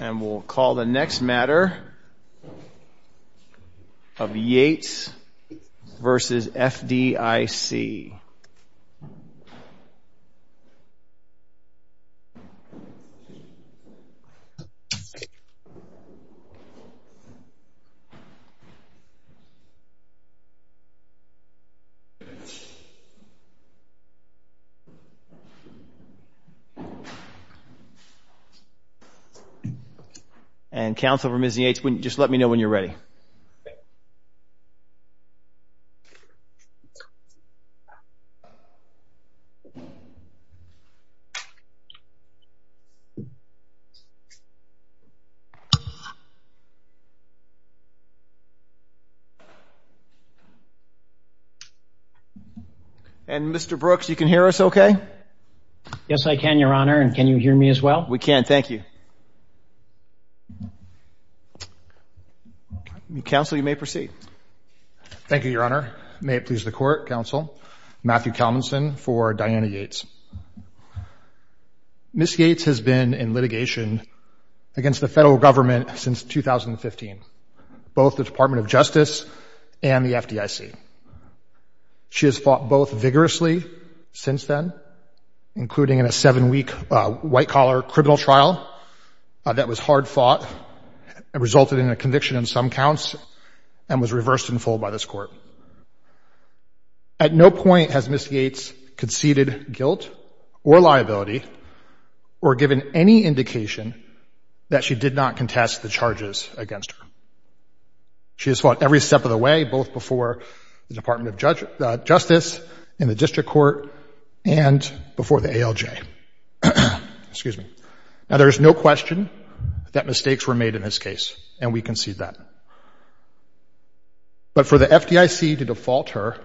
And we'll call the next matter of Yates v. FDIC. And, Counsel for Ms. Yates, just let me know when you're ready. And, Mr. Brooks, you can hear us okay? Yes, I can, Your Honor. And can you hear me as well? We can. Thank you. Counsel, you may proceed. Thank you, Your Honor. May it please the Court, Counsel, Matthew Kalmanson for Diana Yates. Ms. Yates has been in litigation against the federal government since 2015, both the Department of Justice and the FDIC. She has fought both vigorously since then, including in a seven-week white-collar criminal trial that was hard fought, resulted in a conviction on some counts, and was reversed in full by this Court. At no point has Ms. Yates conceded guilt or liability or given any indication that she did not contest the charges against her. She has fought every step of the way, both before the Department of Justice, in the District Court, and before the ALJ. Excuse me. Now, there is no question that mistakes were made in this case, and we concede that. But for the FDIC to default her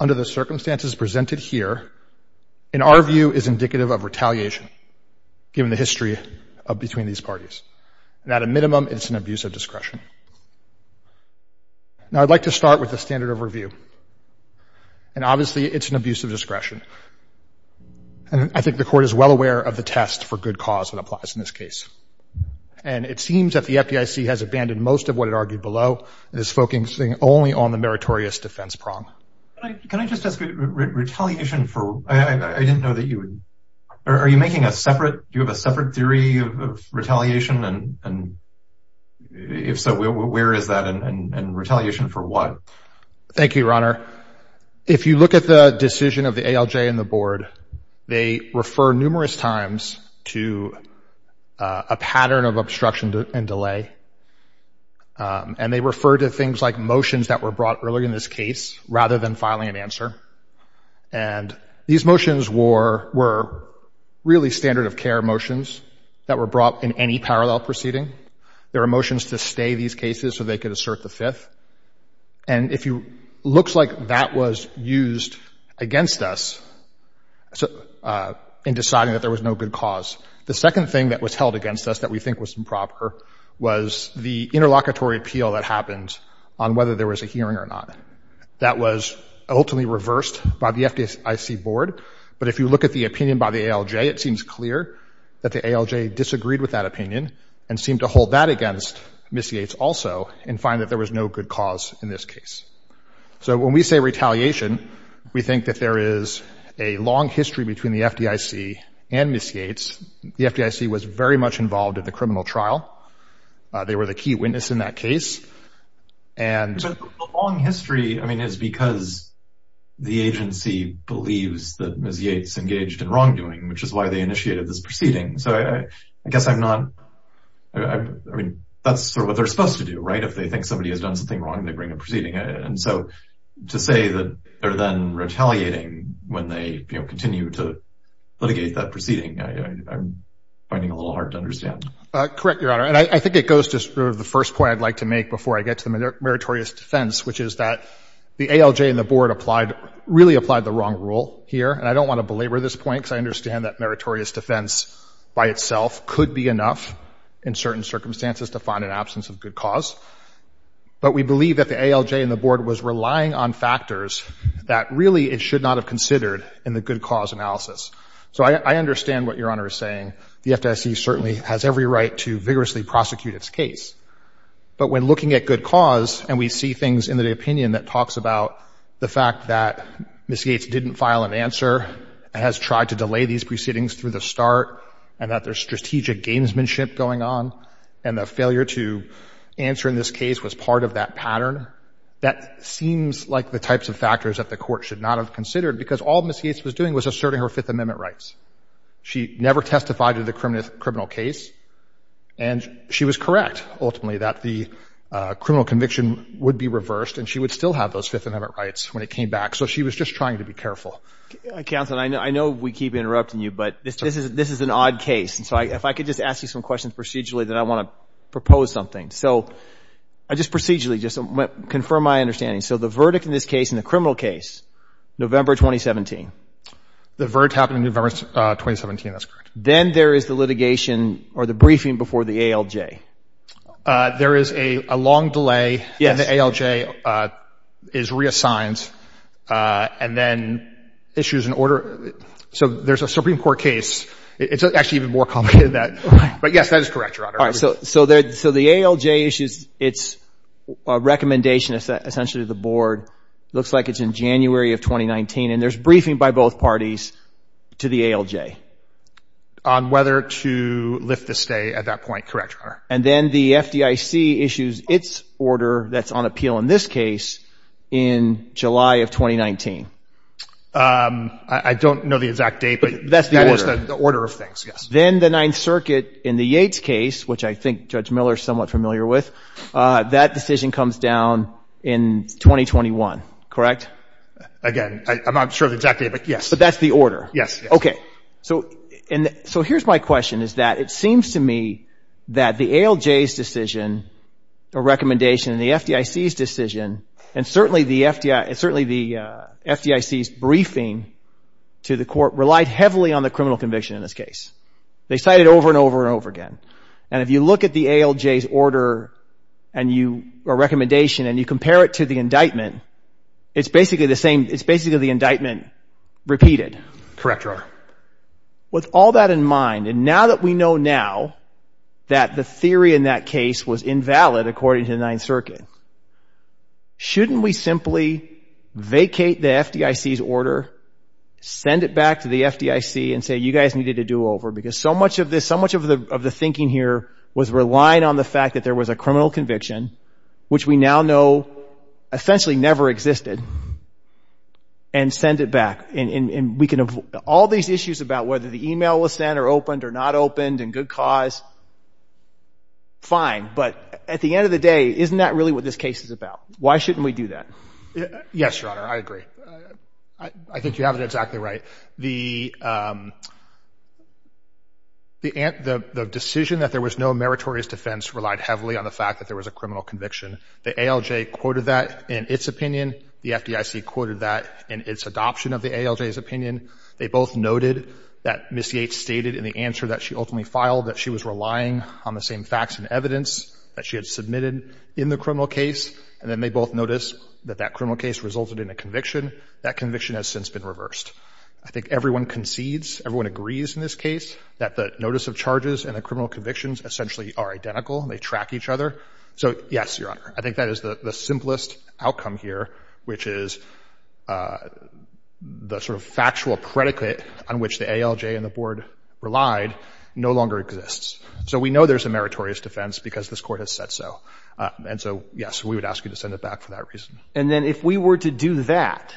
under the circumstances presented here, in our view, is indicative of retaliation, given the history between these parties. And at a minimum, it's an abuse of discretion. Now, I'd like to start with the standard of review. And obviously, it's an abuse of discretion. And I think the Court is well aware of the test for good cause that applies in this case. And it seems that the FDIC has abandoned most of what it argued below, and is focusing only on the meritorious defense prong. Can I just ask, retaliation for... I didn't know that you would... Are you making a separate... Do you have a separate theory of retaliation? And if so, where is that? And retaliation for what? Thank you, Your Honor. If you look at the decision of the ALJ and the Board, they refer numerous times to a pattern of obstruction and delay. And they refer to things like motions that were brought earlier in this case, rather than filing an answer. And these motions were really standard-of-care motions that were brought in any parallel proceeding. There were motions to stay these cases so they could assert the Fifth. And it looks like that was used against us in deciding that there was no good cause. The second thing that was held against us that we think was improper was the interlocutory appeal that happened on whether there was a hearing or not. That was ultimately reversed by the FDIC Board. But if you look at the opinion by the ALJ, it seems clear that the ALJ disagreed with that opinion, and seemed to hold that against Miss Yates also, and find that there was no good cause in this case. So when we say retaliation, we think that there is a long history between the FDIC and Miss Yates. The FDIC was very much involved in the criminal trial. They were the key witness in that case. So the long history is because the agency believes that Miss Yates engaged in wrongdoing, which is why they initiated this proceeding. So I guess that's sort of what they're supposed to do, right? If they think somebody has done something wrong, they bring a proceeding. And so to say that they're then retaliating when they continue to litigate that proceeding, I'm finding a little hard to understand. Correct, Your Honor. And I think it goes to sort of the first point I'd like to make before I get to the meritorious defense, which is that the ALJ and the Board really applied the wrong rule here. And I don't want to belabor this point, because I understand that meritorious defense by itself could be enough in certain circumstances to find an absence of good cause. But we believe that the ALJ and the Board was relying on factors that really it should not have considered in the good cause analysis. So I understand what Your Honor is saying. The FDIC certainly has every right to vigorously prosecute its case. But when looking at good cause, and we see things in the opinion that talks about the fact that Miss Yates didn't file an answer, has tried to delay these proceedings through the start, and that there's strategic gamesmanship going on, and the failure to answer in this case was part of that pattern, that seems like the types of factors that the Court should not have considered, because all Miss Yates was doing was asserting her Fifth Amendment rights. She never testified to the criminal case. And she was correct, ultimately, that the criminal conviction would be reversed, and she would still have those Fifth Amendment rights when it came back. So she was just trying to be careful. Counsel, I know we keep interrupting you, but this is an odd case. And so if I could just ask you some questions procedurally, then I want to propose something. So just procedurally, just to confirm my understanding. So the verdict in this case, in the criminal case, November 2017. The verdict happened in November 2017. That's correct. Then there is the litigation or the briefing before the ALJ. There is a long delay, and the ALJ is reassigned, and then issues an order. So there's a Supreme Court case. It's actually even more complicated than that. But yes, that is correct, Your Honor. So the ALJ issues its recommendation, essentially, to the Board. It looks like it's in January of 2019. And there's briefing by both parties to the ALJ. On whether to lift the stay at that point. Correct, Your Honor. And then the FDIC issues its order that's on appeal in this case in July of 2019. I don't know the exact date, but that is the order of things, yes. Then the Ninth Circuit in the Yates case, which I think Judge Miller is somewhat familiar with, that decision comes down in 2021, correct? Again, I'm not sure of the exact date, but yes. But that's the order? Yes. Okay. So here's my question, is that it seems to me that the ALJ's decision, or recommendation, and the FDIC's decision, and certainly the FDIC's briefing to the court, relied heavily on the criminal conviction in this case. They cited it over and over and over again. And if you look at the ALJ's order or recommendation and you compare it to the indictment, it's basically the same, it's basically the indictment repeated. Correct, Your Honor. With all that in mind, and now that we know now that the theory in that case was invalid, according to the Ninth Circuit, shouldn't we simply vacate the FDIC's order, send it back to the FDIC and say, you guys needed to do over? Because so much of the thinking here was relying on the fact that there was a criminal conviction, which we now know essentially never existed, and send it back. All these issues about whether the email was sent or opened or not opened and good cause, fine. But at the end of the day, isn't that really what this case is about? Why shouldn't we do that? Yes, Your Honor, I agree. I think you have it exactly right. The decision that there was no meritorious defense relied heavily on the fact that there was a criminal conviction. The ALJ quoted that in its opinion. The FDIC quoted that in its adoption of the ALJ's opinion. They both noted that Ms. Yates stated in the answer that she ultimately filed that she was relying on the same facts and evidence that she had submitted in the criminal case, and then they both noticed that that criminal case resulted in a conviction. That conviction has since been reversed. I think everyone concedes, everyone agrees in this case, that the notice of charges and the criminal convictions essentially are identical. They track each other. So, yes, Your Honor, I think that is the simplest outcome here, which is the sort of factual predicate on which the ALJ and the Board relied no longer exists. So we know there's a meritorious defense because this Court has said so. And so, yes, we would ask you to send it back for that reason. And then if we were to do that,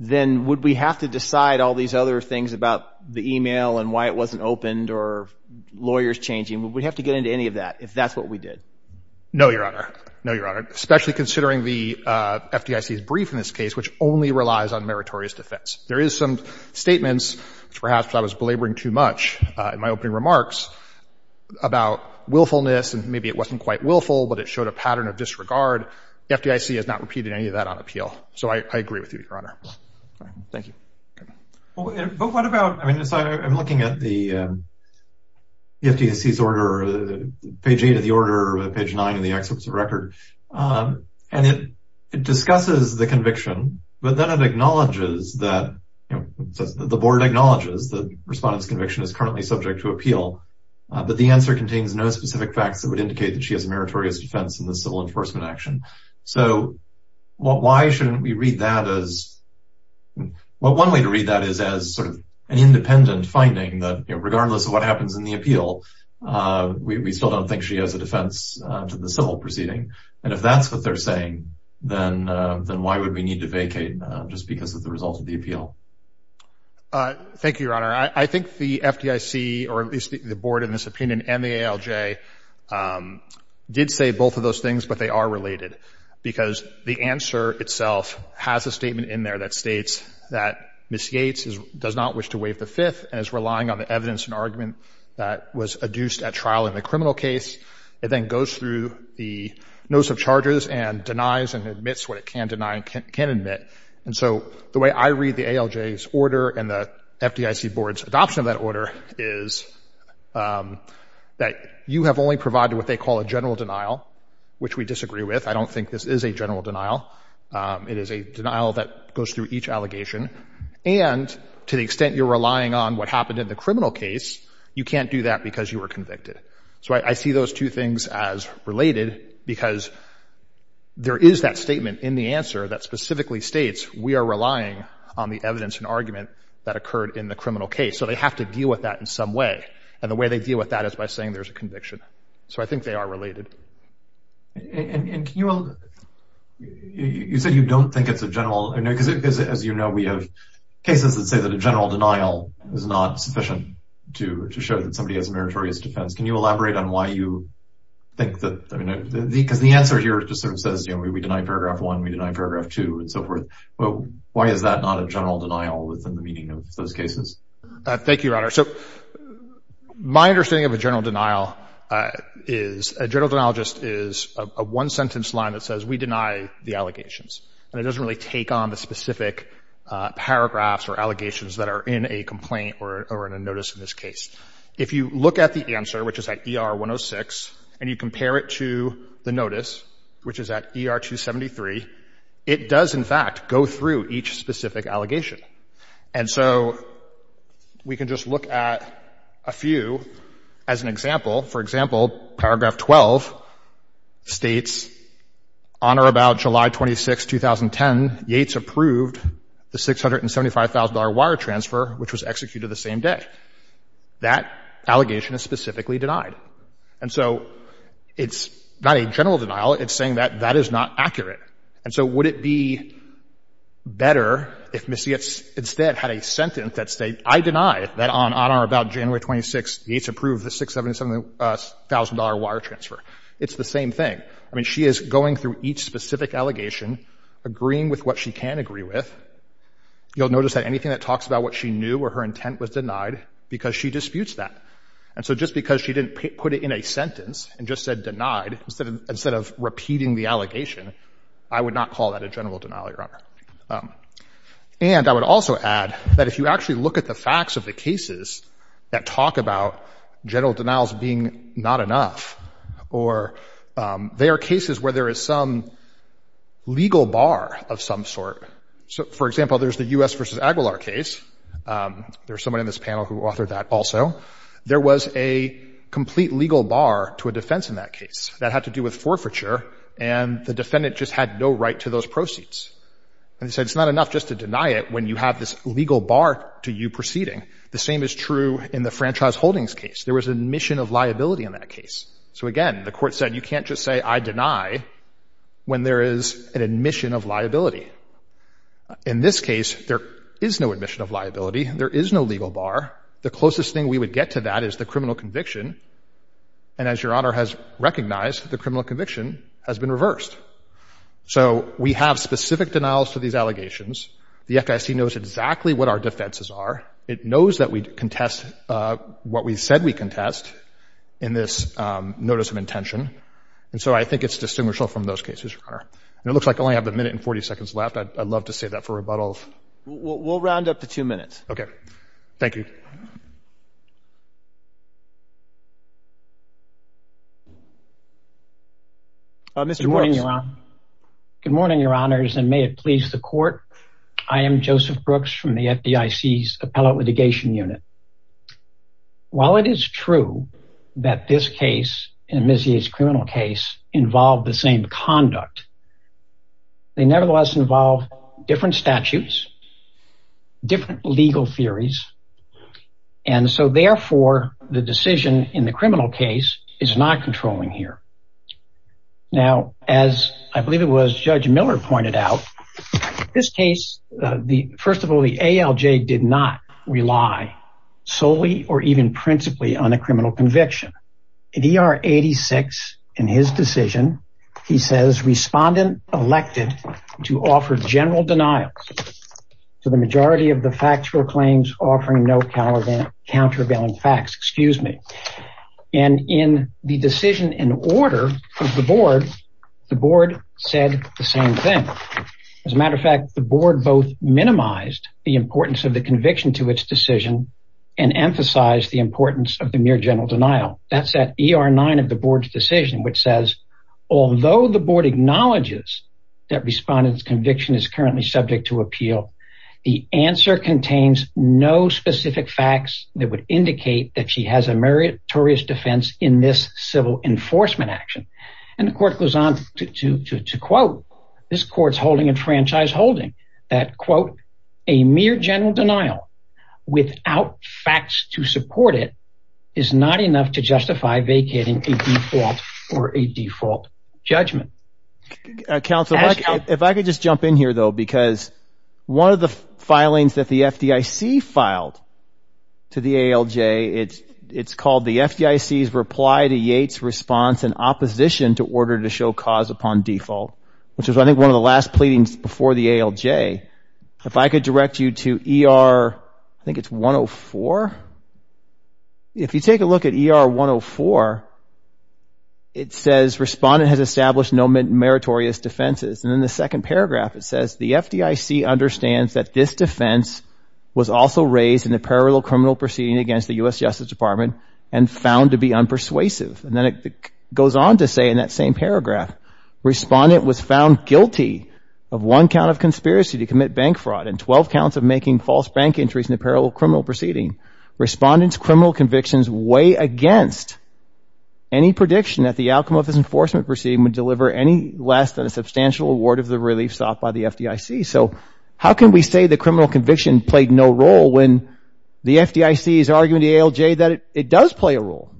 then would we have to decide all these other things about the email and why it wasn't opened or lawyers changing? Would we have to get into any of that if that's what we did? No, Your Honor. No, Your Honor, especially considering the FDIC's brief in this case, which only relies on meritorious defense. There is some statements, perhaps I was belaboring too much in my opening remarks, about willfulness and maybe it wasn't quite willful, but it showed a pattern of disregard. The FDIC has not repeated any of that on appeal. So I agree with you, Your Honor. Thank you. But what about, I mean, I'm looking at the FDIC's order, page 8 of the order, page 9 of the executive record, and it discusses the conviction, but then it acknowledges that the Board acknowledges the respondent's conviction is currently subject to appeal, but the answer contains no specific facts that would indicate that she has a meritorious defense in the civil enforcement action. So why shouldn't we read that as, well, one way to read that is as sort of an independent finding that regardless of what happens in the appeal, we still don't think she has a defense to the civil proceeding. And if that's what they're saying, then why would we need to vacate just because of the result of the appeal? Thank you, Your Honor. I think the FDIC, or at least the Board in this opinion, and the ALJ did say both of those things, but they are related because the answer itself has a statement in there that states that Ms. Yates does not wish to waive the Fifth and is relying on the evidence and argument that was adduced at trial in the criminal case. It then goes through the notice of charges and denies and admits what it can deny and can admit. And so the way I read the ALJ's order and the FDIC Board's adoption of that order is that you have only provided what they call a general denial, which we disagree with. I don't think this is a general denial. It is a denial that goes through each allegation. And to the extent you're relying on what happened in the criminal case, you can't do that because you were convicted. So I see those two things as related because there is that statement in the answer that specifically states we are relying on the evidence and argument that occurred in the criminal case. So they have to deal with that in some way. And the way they deal with that is by saying there's a conviction. So I think they are related. And can you – you said you don't think it's a general – because as you know we have cases that say that a general denial is not sufficient to show that somebody has a meritorious defense. Can you elaborate on why you think that – because the answer here just sort of says, you know, we deny Paragraph 1, we deny Paragraph 2 and so forth. Why is that not a general denial within the meaning of those cases? Thank you, Your Honor. So my understanding of a general denial is a general denial just is a one-sentence line that says we deny the allegations. And it doesn't really take on the specific paragraphs or allegations that are in a complaint or in a notice in this case. If you look at the answer, which is at ER 106, and you compare it to the notice, which is at ER 273, it does in fact go through each specific allegation. And so we can just look at a few as an example. For example, Paragraph 12 states, On or about July 26, 2010, Yates approved the $675,000 wire transfer, which was executed the same day. That allegation is specifically denied. And so it's not a general denial. It's saying that that is not accurate. And so would it be better if Ms. Yates instead had a sentence that said, I deny that on or about January 26, Yates approved the $675,000 wire transfer. It's the same thing. I mean, she is going through each specific allegation, agreeing with what she can agree with. You'll notice that anything that talks about what she knew or her intent was denied because she disputes that. And so just because she didn't put it in a sentence and just said denied, instead of repeating the allegation, I would not call that a general denial, Your Honor. And I would also add that if you actually look at the facts of the cases that talk about general denials being not enough, or they are cases where there is some legal bar of some sort. For example, there's the U.S. v. Aguilar case. There's someone in this panel who authored that also. There was a complete legal bar to a defense in that case. That had to do with forfeiture, and the defendant just had no right to those proceeds. And he said it's not enough just to deny it when you have this legal bar to you proceeding. The same is true in the Franchise Holdings case. There was admission of liability in that case. So, again, the court said you can't just say I deny when there is an admission of liability. In this case, there is no admission of liability. There is no legal bar. The closest thing we would get to that is the criminal conviction. And as Your Honor has recognized, the criminal conviction has been reversed. So we have specific denials to these allegations. The FDIC knows exactly what our defenses are. It knows that we contest what we said we contest in this notice of intention. And so I think it's distinguishable from those cases, Your Honor. It looks like I only have a minute and 40 seconds left. I'd love to save that for rebuttal. We'll round up to two minutes. Okay. Thank you. Good morning, Your Honor. Good morning, Your Honors, and may it please the court. I am Joseph Brooks from the FDIC's Appellate Litigation Unit. While it is true that this case, Amnesia's criminal case, involved the same conduct, they nevertheless involve different statutes, different legal theories. And so, therefore, the decision in the criminal case is not controlling here. Now, as I believe it was Judge Miller pointed out, this case, first of all, the ALJ did not rely solely or even principally on a criminal conviction. In ER 86, in his decision, he says, respondent elected to offer general denial to the majority of the factual claims offering no countervailing facts. Excuse me. And in the decision in order of the board, the board said the same thing. As a matter of fact, the board both minimized the importance of the conviction to its decision and emphasized the importance of the mere general denial. That's at ER 9 of the board's decision, which says, although the board acknowledges that respondent's conviction is currently subject to appeal, the answer contains no specific facts that would indicate that she has a meritorious defense in this civil enforcement action. And the court goes on to quote this court's holding and franchise holding that, quote, a mere general denial without facts to support it is not enough to justify vacating a default or a default judgment. Counselor, if I could just jump in here, though, because one of the filings that the FDIC filed to the ALJ, it's called the FDIC's reply to Yates' response in opposition to order to show cause upon default, which was, I think, one of the last pleadings before the ALJ. If I could direct you to ER, I think it's 104. If you take a look at ER 104, it says, respondent has established no meritorious defenses. And in the second paragraph it says, the FDIC understands that this defense was also raised in a parallel criminal proceeding against the U.S. Justice Department and found to be unpersuasive. And then it goes on to say in that same paragraph, respondent was found guilty of one count of conspiracy to commit bank fraud and 12 counts of making false bank entries in a parallel criminal proceeding. Respondent's criminal convictions weigh against any prediction that the outcome of this enforcement proceeding would deliver any less than a substantial reward of the relief sought by the FDIC. So how can we say the criminal conviction played no role when the FDIC is arguing to the ALJ that it does play a role?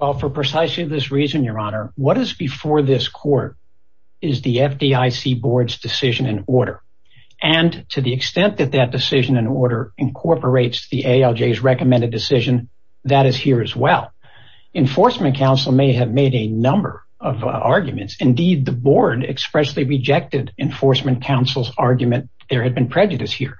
Well, for precisely this reason, Your Honor, what is before this court is the FDIC board's decision in order. And to the extent that that decision in order incorporates the ALJ's recommended decision, that is here as well. Enforcement counsel may have made a number of arguments. Indeed, the board expressly rejected enforcement counsel's argument. There had been prejudice here,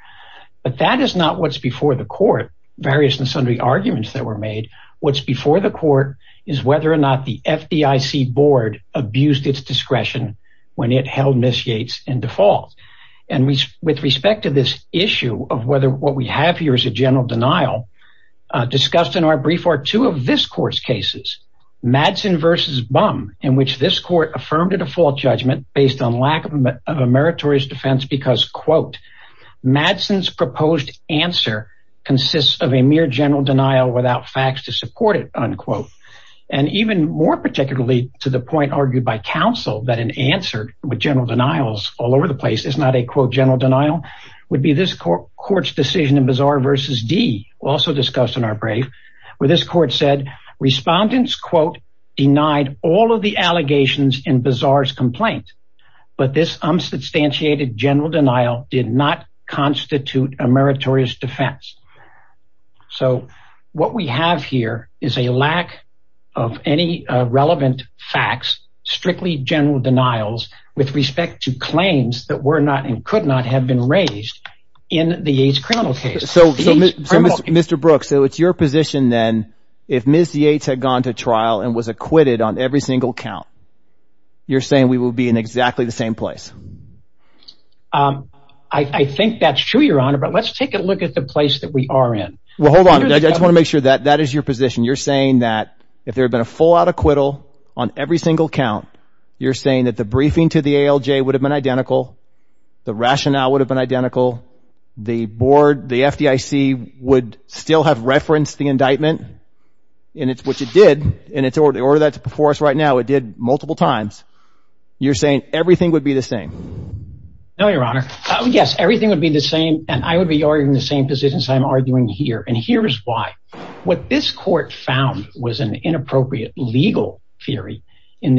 but that is not what's before the court. Various and sundry arguments that were made. What's before the court is whether or not the FDIC board abused its discretion when it held Ms. Yates in default. And with respect to this issue of whether what we have here is a general denial, discussed in our brief are two of this court's cases, Madsen versus Bum, in which this court affirmed a default judgment based on lack of a meritorious defense because, quote, Madsen's proposed answer consists of a mere general denial without facts to support it, unquote. And even more particularly to the point argued by counsel that an answer with general denials all over the place is not a, quote, general denial would be this court's decision in Bazaar versus D, also discussed in our brief, where this court said respondents, quote, denied all of the allegations in Bazaar's complaint, but this unsubstantiated general denial did not constitute a meritorious defense. So what we have here is a lack of any relevant facts, strictly general denials with respect to claims that were not and could not have been raised in the Yates criminal case. So Mr. Brooks, so it's your position then if Ms. Yates had gone to trial and was I think that's true, Your Honor. But let's take a look at the place that we are in. Well, hold on. I just want to make sure that that is your position. You're saying that if there had been a full out acquittal on every single count, you're saying that the briefing to the ALJ would have been identical. The rationale would have been identical. The board, the FDIC would still have referenced the indictment. And it's what you did. And it's the order that's before us right now. It did multiple times. You're saying everything would be the same. No, Your Honor. Yes, everything would be the same. And I would be arguing the same positions I'm arguing here. And here is why. What this court found was an inappropriate legal theory in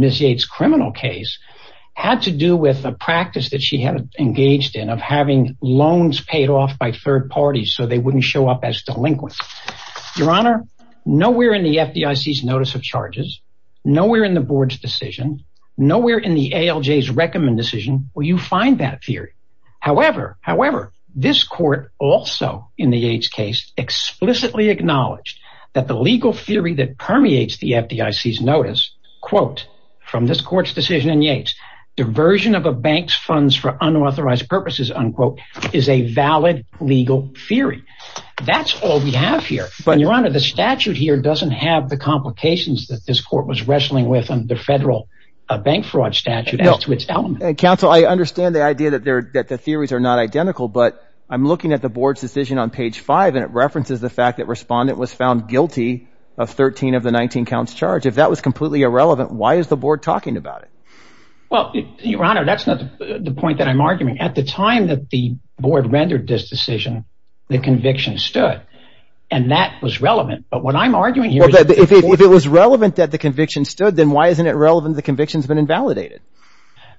Ms. Yates' criminal case had to do with a practice that she had engaged in of having loans paid off by third parties so they wouldn't show up as delinquents. Your Honor, nowhere in the FDIC's notice of charges, nowhere in the board's decision, nowhere in the ALJ's recommend decision will you find that theory. However, however, this court also in the Yates case explicitly acknowledged that the legal theory that permeates the FDIC's notice, quote, from this court's decision in Yates, diversion of a bank's funds for unauthorized purposes, unquote, is a valid legal theory. That's all we have here. And Your Honor, the statute here doesn't have the complications that this court was wrestling with under federal bank fraud statute as to its element. Counsel, I understand the idea that the theories are not identical, but I'm looking at the board's decision on page five, and it references the fact that Respondent was found guilty of 13 of the 19 counts charged. If that was completely irrelevant, why is the board talking about it? Well, Your Honor, that's not the point that I'm arguing. At the time that the board rendered this decision, the conviction stood, and that was relevant. But what I'm arguing here is... Well, if it was relevant that the conviction stood, then why isn't it relevant that the conviction's been invalidated?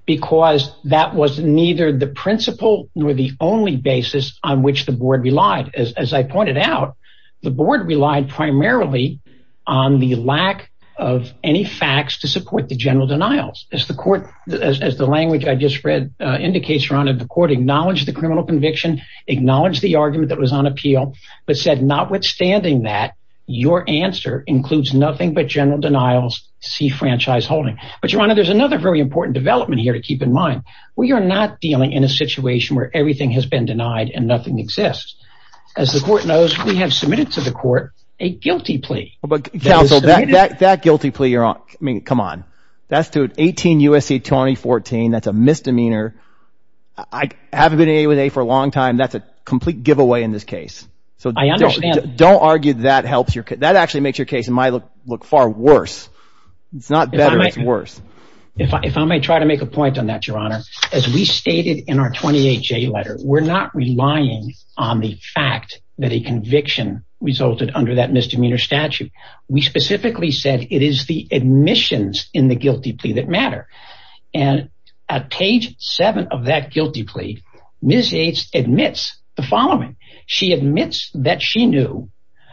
Because that was neither the principle nor the only basis on which the board relied. As I pointed out, the board relied primarily on the lack of any facts to support the general denials. As the language I just read indicates, Your Honor, the court acknowledged the criminal conviction, acknowledged the argument that was on appeal, but said notwithstanding that, your answer includes nothing but general denials, see franchise holding. But Your Honor, there's another very important development here to keep in mind. We are not dealing in a situation where everything has been denied and nothing exists. As the court knows, we have submitted to the court a guilty plea. Counsel, that guilty plea you're on, I mean, come on. That's to an 18 U.S.C. 2014. That's a misdemeanor. I haven't been in a for a long time. That's a complete giveaway in this case. I understand. So don't argue that helps your case. That actually makes your case, in my look, far worse. It's not better, it's worse. If I may try to make a point on that, Your Honor, as we stated in our 28J letter, we're not relying on the fact that a conviction resulted under that misdemeanor statute. We specifically said it is the admissions in the guilty plea that matter. And at page 7 of that guilty plea, Ms. Yates admits the following. She admits that she knew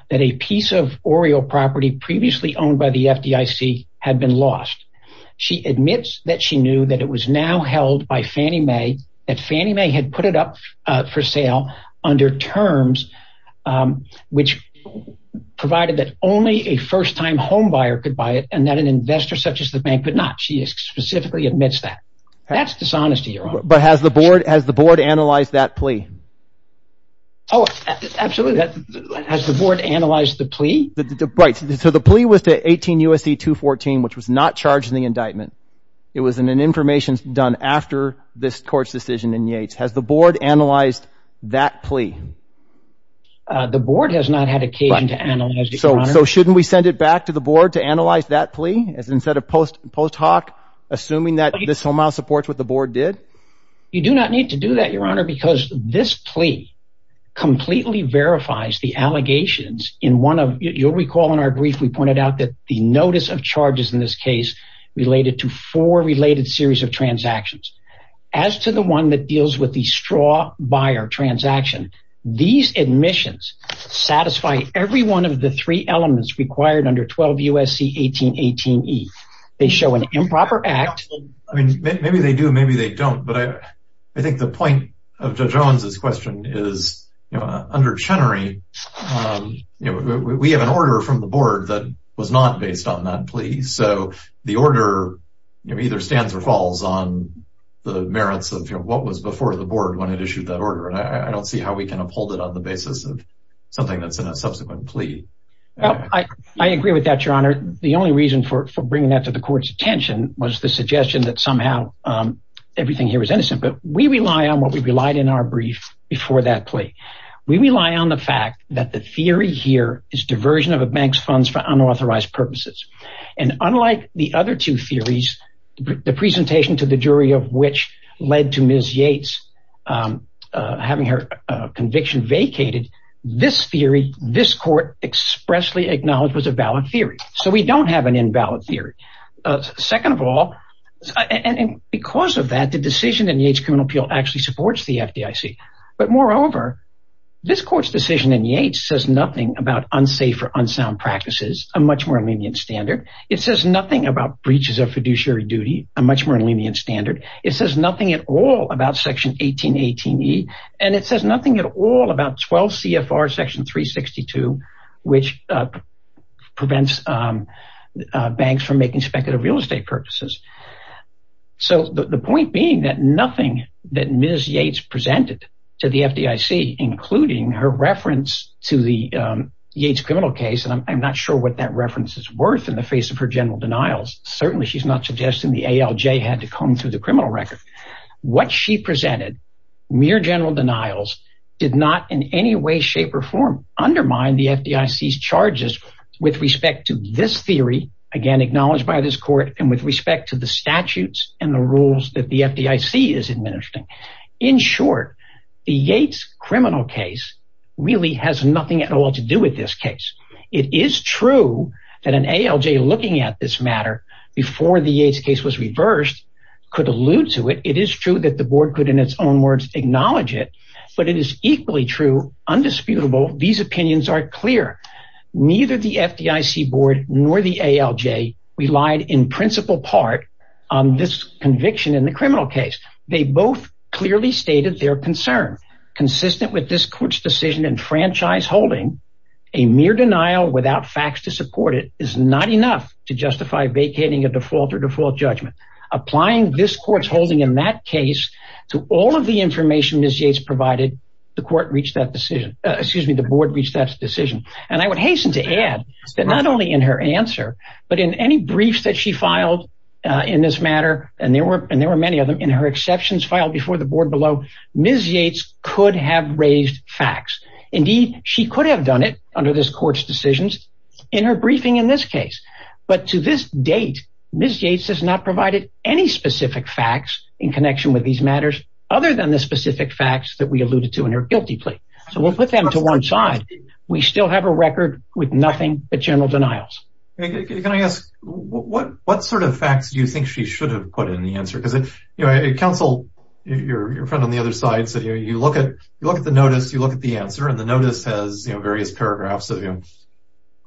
that a piece of Oriel property previously owned by the FDIC had been lost. She admits that she knew that it was now held by Fannie Mae, that Fannie Mae had put it up for sale under terms which provided that only a first-time home buyer could buy it and that an investor such as the bank could not. She specifically admits that. That's dishonesty, Your Honor. But has the board analyzed that plea? Oh, absolutely. Has the board analyzed the plea? Right. So the plea was to 18 U.S.C. 2014, which was not charged in the indictment. It was an information done after this court's decision in Yates. Has the board analyzed that plea? The board has not had occasion to analyze it, Your Honor. So shouldn't we send it back to the board to analyze that plea instead of post hoc assuming that this somehow supports what the board did? You do not need to do that, Your Honor, because this plea completely verifies the allegations in one of, you'll recall in our brief, we pointed out that the four related series of transactions. As to the one that deals with the straw buyer transaction, these admissions satisfy every one of the three elements required under 12 U.S.C. 1818E. They show an improper act. I mean, maybe they do, maybe they don't. But I think the point of Judge Owens' question is under Chenery, we have an order from the board that was not based on that plea. So the order either stands or falls on the merits of what was before the board when it issued that order. And I don't see how we can uphold it on the basis of something that's in a subsequent plea. I agree with that, Your Honor. The only reason for bringing that to the court's attention was the suggestion that somehow everything here was innocent. But we rely on what we relied in our brief before that plea. We rely on the fact that the theory here is diversion of a bank's funds for fraud. And unlike the other two theories, the presentation to the jury of which led to Ms. Yates having her conviction vacated, this theory, this court expressly acknowledged was a valid theory. So we don't have an invalid theory. Second of all, and because of that, the decision in Yates' criminal appeal actually supports the FDIC. But moreover, this court's decision in Yates says nothing about unsafe or unsound practices, a much more lenient standard. It says nothing about breaches of fiduciary duty, a much more lenient standard. It says nothing at all about Section 1818E, and it says nothing at all about 12 CFR Section 362, which prevents banks from making speculative real estate purposes. So the point being that nothing that Ms. Yates presented to the FDIC, including her reference to the Yates criminal case, and I'm not sure what that reference is worth in the face of her general denials. Certainly she's not suggesting the ALJ had to comb through the criminal record. What she presented, mere general denials, did not in any way, shape, or form undermine the FDIC's charges with respect to this theory, again, acknowledged by this court, and with respect to the statutes and the rules that the FDIC is administering. In short, the Yates criminal case really has nothing at all to do with this case. It is true that an ALJ looking at this matter before the Yates case was reversed could allude to it. It is true that the board could, in its own words, acknowledge it, but it is equally true, undisputable, these opinions are clear. Neither the FDIC board nor the ALJ relied in principal part on this conviction in the criminal case. They both clearly stated their concern. Consistent with this court's decision in franchise holding, a mere denial without facts to support it is not enough to justify vacating a default or default judgment. Applying this court's holding in that case to all of the information Ms. Yates provided, the court reached that decision. Excuse me, the board reached that decision. And I would hasten to add that not only in her answer, but in any briefs that she filed in this matter, and there were many of them, in her exceptions filed before the board below, Ms. Yates could have raised facts. Indeed, she could have done it under this court's decisions in her briefing in this case. But to this date, Ms. Yates has not provided any specific facts in connection with these matters other than the specific facts that we alluded to in her guilty plea. So we'll put them to one side. We still have a record with nothing but general denials. Can I ask, what sort of facts do you think she should have put in the answer? Counsel, your friend on the other side, said you look at the notice, you look at the answer, and the notice has various paragraphs of you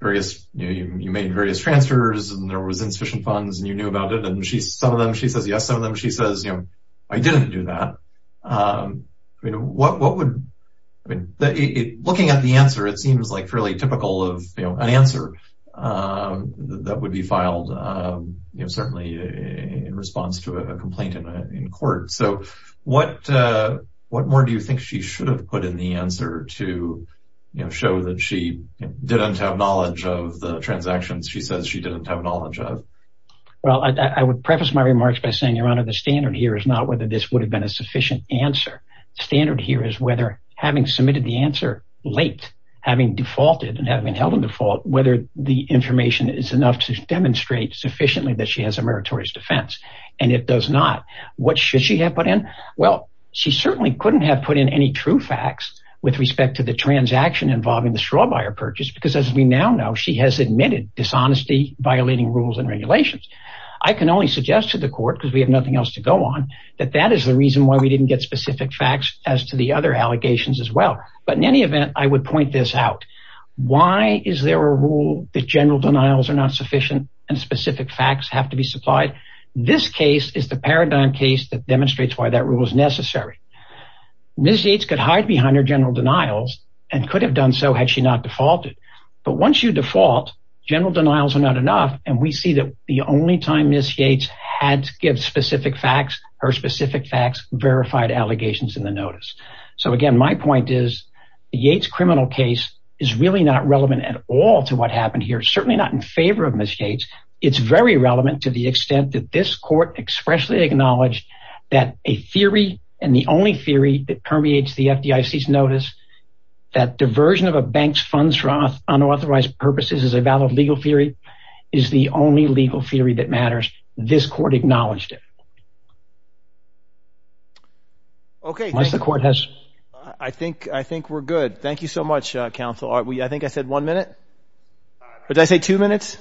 made various transfers and there was insufficient funds and you knew about it. And some of them she says yes, some of them she says I didn't do that. Looking at the answer, it seems like fairly typical of an answer that would be a complaint in court. So what more do you think she should have put in the answer to show that she didn't have knowledge of the transactions she says she didn't have knowledge of? Well, I would preface my remarks by saying, Your Honor, the standard here is not whether this would have been a sufficient answer. The standard here is whether having submitted the answer late, having defaulted and having held a default, whether the information is enough to demonstrate sufficiently that she has a meritorious defense. And it does not. What should she have put in? Well, she certainly couldn't have put in any true facts with respect to the transaction involving the straw buyer purchase, because as we now know, she has admitted dishonesty, violating rules and regulations. I can only suggest to the court, because we have nothing else to go on, that that is the reason why we didn't get specific facts as to the other allegations as well. But in any event, I would point this out. Why is there a rule that general denials are not sufficient and specific facts have to be supplied? This case is the paradigm case that demonstrates why that rule is necessary. Ms. Yates could hide behind her general denials and could have done so had she not defaulted. But once you default, general denials are not enough, and we see that the only time Ms. Yates had to give specific facts, her specific facts verified allegations in the notice. So, again, my point is the Yates criminal case is really not relevant at all to what happened here, certainly not in favor of Ms. Yates. It's very relevant to the extent that this court expressly acknowledged that a theory and the only theory that permeates the FDIC's notice that diversion of a bank's funds for unauthorized purposes is a valid legal theory is the only legal theory that matters. This court acknowledged it. I think we're good. Thank you so much, counsel. I think I said one minute? Did I say two minutes?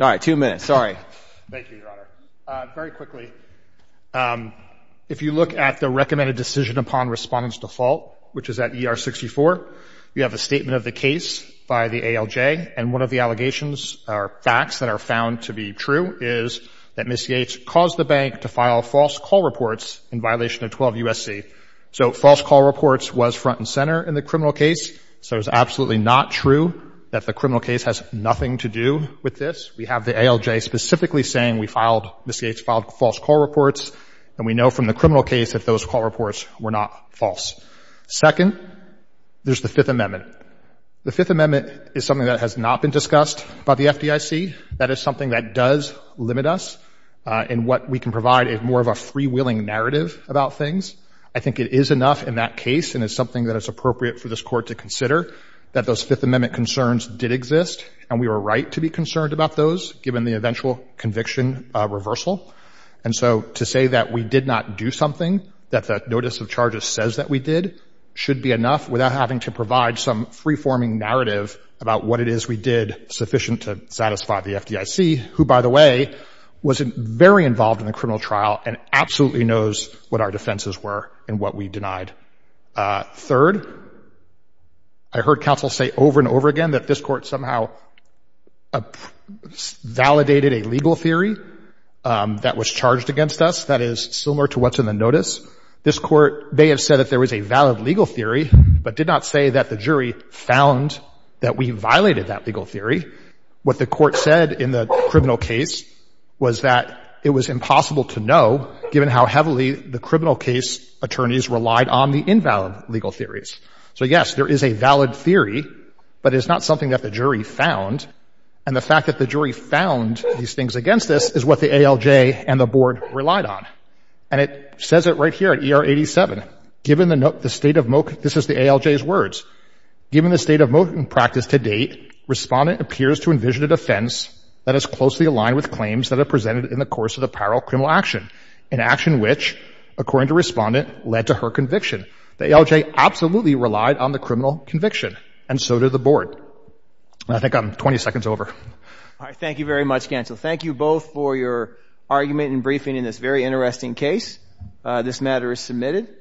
All right, two minutes. Thank you, Your Honor. Very quickly, if you look at the recommended decision upon respondent's default, which is at ER 64, you have a statement of the case by the ALJ, and one of the allegations or facts that are found to be true is that Ms. Yates caused the bank to file false call reports in violation of 12 U.S.C. So false call reports was front and center in the criminal case, so it's absolutely not true that the criminal case has nothing to do with this. We have the ALJ specifically saying Ms. Yates filed false call reports, and we know from the criminal case that those call reports were not false. Second, there's the Fifth Amendment. The Fifth Amendment is something that has not been discussed by the FDIC. That is something that does limit us in what we can provide as more of a freewheeling narrative about things. I think it is enough in that case and is something that is appropriate for this case that those Fifth Amendment concerns did exist, and we were right to be concerned about those given the eventual conviction reversal. And so to say that we did not do something, that the notice of charges says that we did, should be enough without having to provide some free-forming narrative about what it is we did sufficient to satisfy the FDIC, who, by the way, was very involved in the criminal trial and absolutely knows what our defenses were and what we denied. Third, I heard counsel say over and over again that this Court somehow validated a legal theory that was charged against us that is similar to what's in the notice. This Court may have said that there was a valid legal theory, but did not say that the jury found that we violated that legal theory. What the Court said in the criminal case was that it was impossible to know, given how heavily the criminal case attorneys relied on the invalid legal theories. So, yes, there is a valid theory, but it is not something that the jury found. And the fact that the jury found these things against us is what the ALJ and the Board relied on. And it says it right here at ER 87. Given the state of mo- this is the ALJ's words. Given the state of mo- practice to date, respondent appears to envision a defense that is closely aligned with claims that are presented in the course of the viral criminal action, an action which, according to respondent, led to her conviction. The ALJ absolutely relied on the criminal conviction, and so did the Board. And I think I'm 20 seconds over. All right. Thank you very much, counsel. Thank you both for your argument and briefing in this very interesting case. This matter is submitted.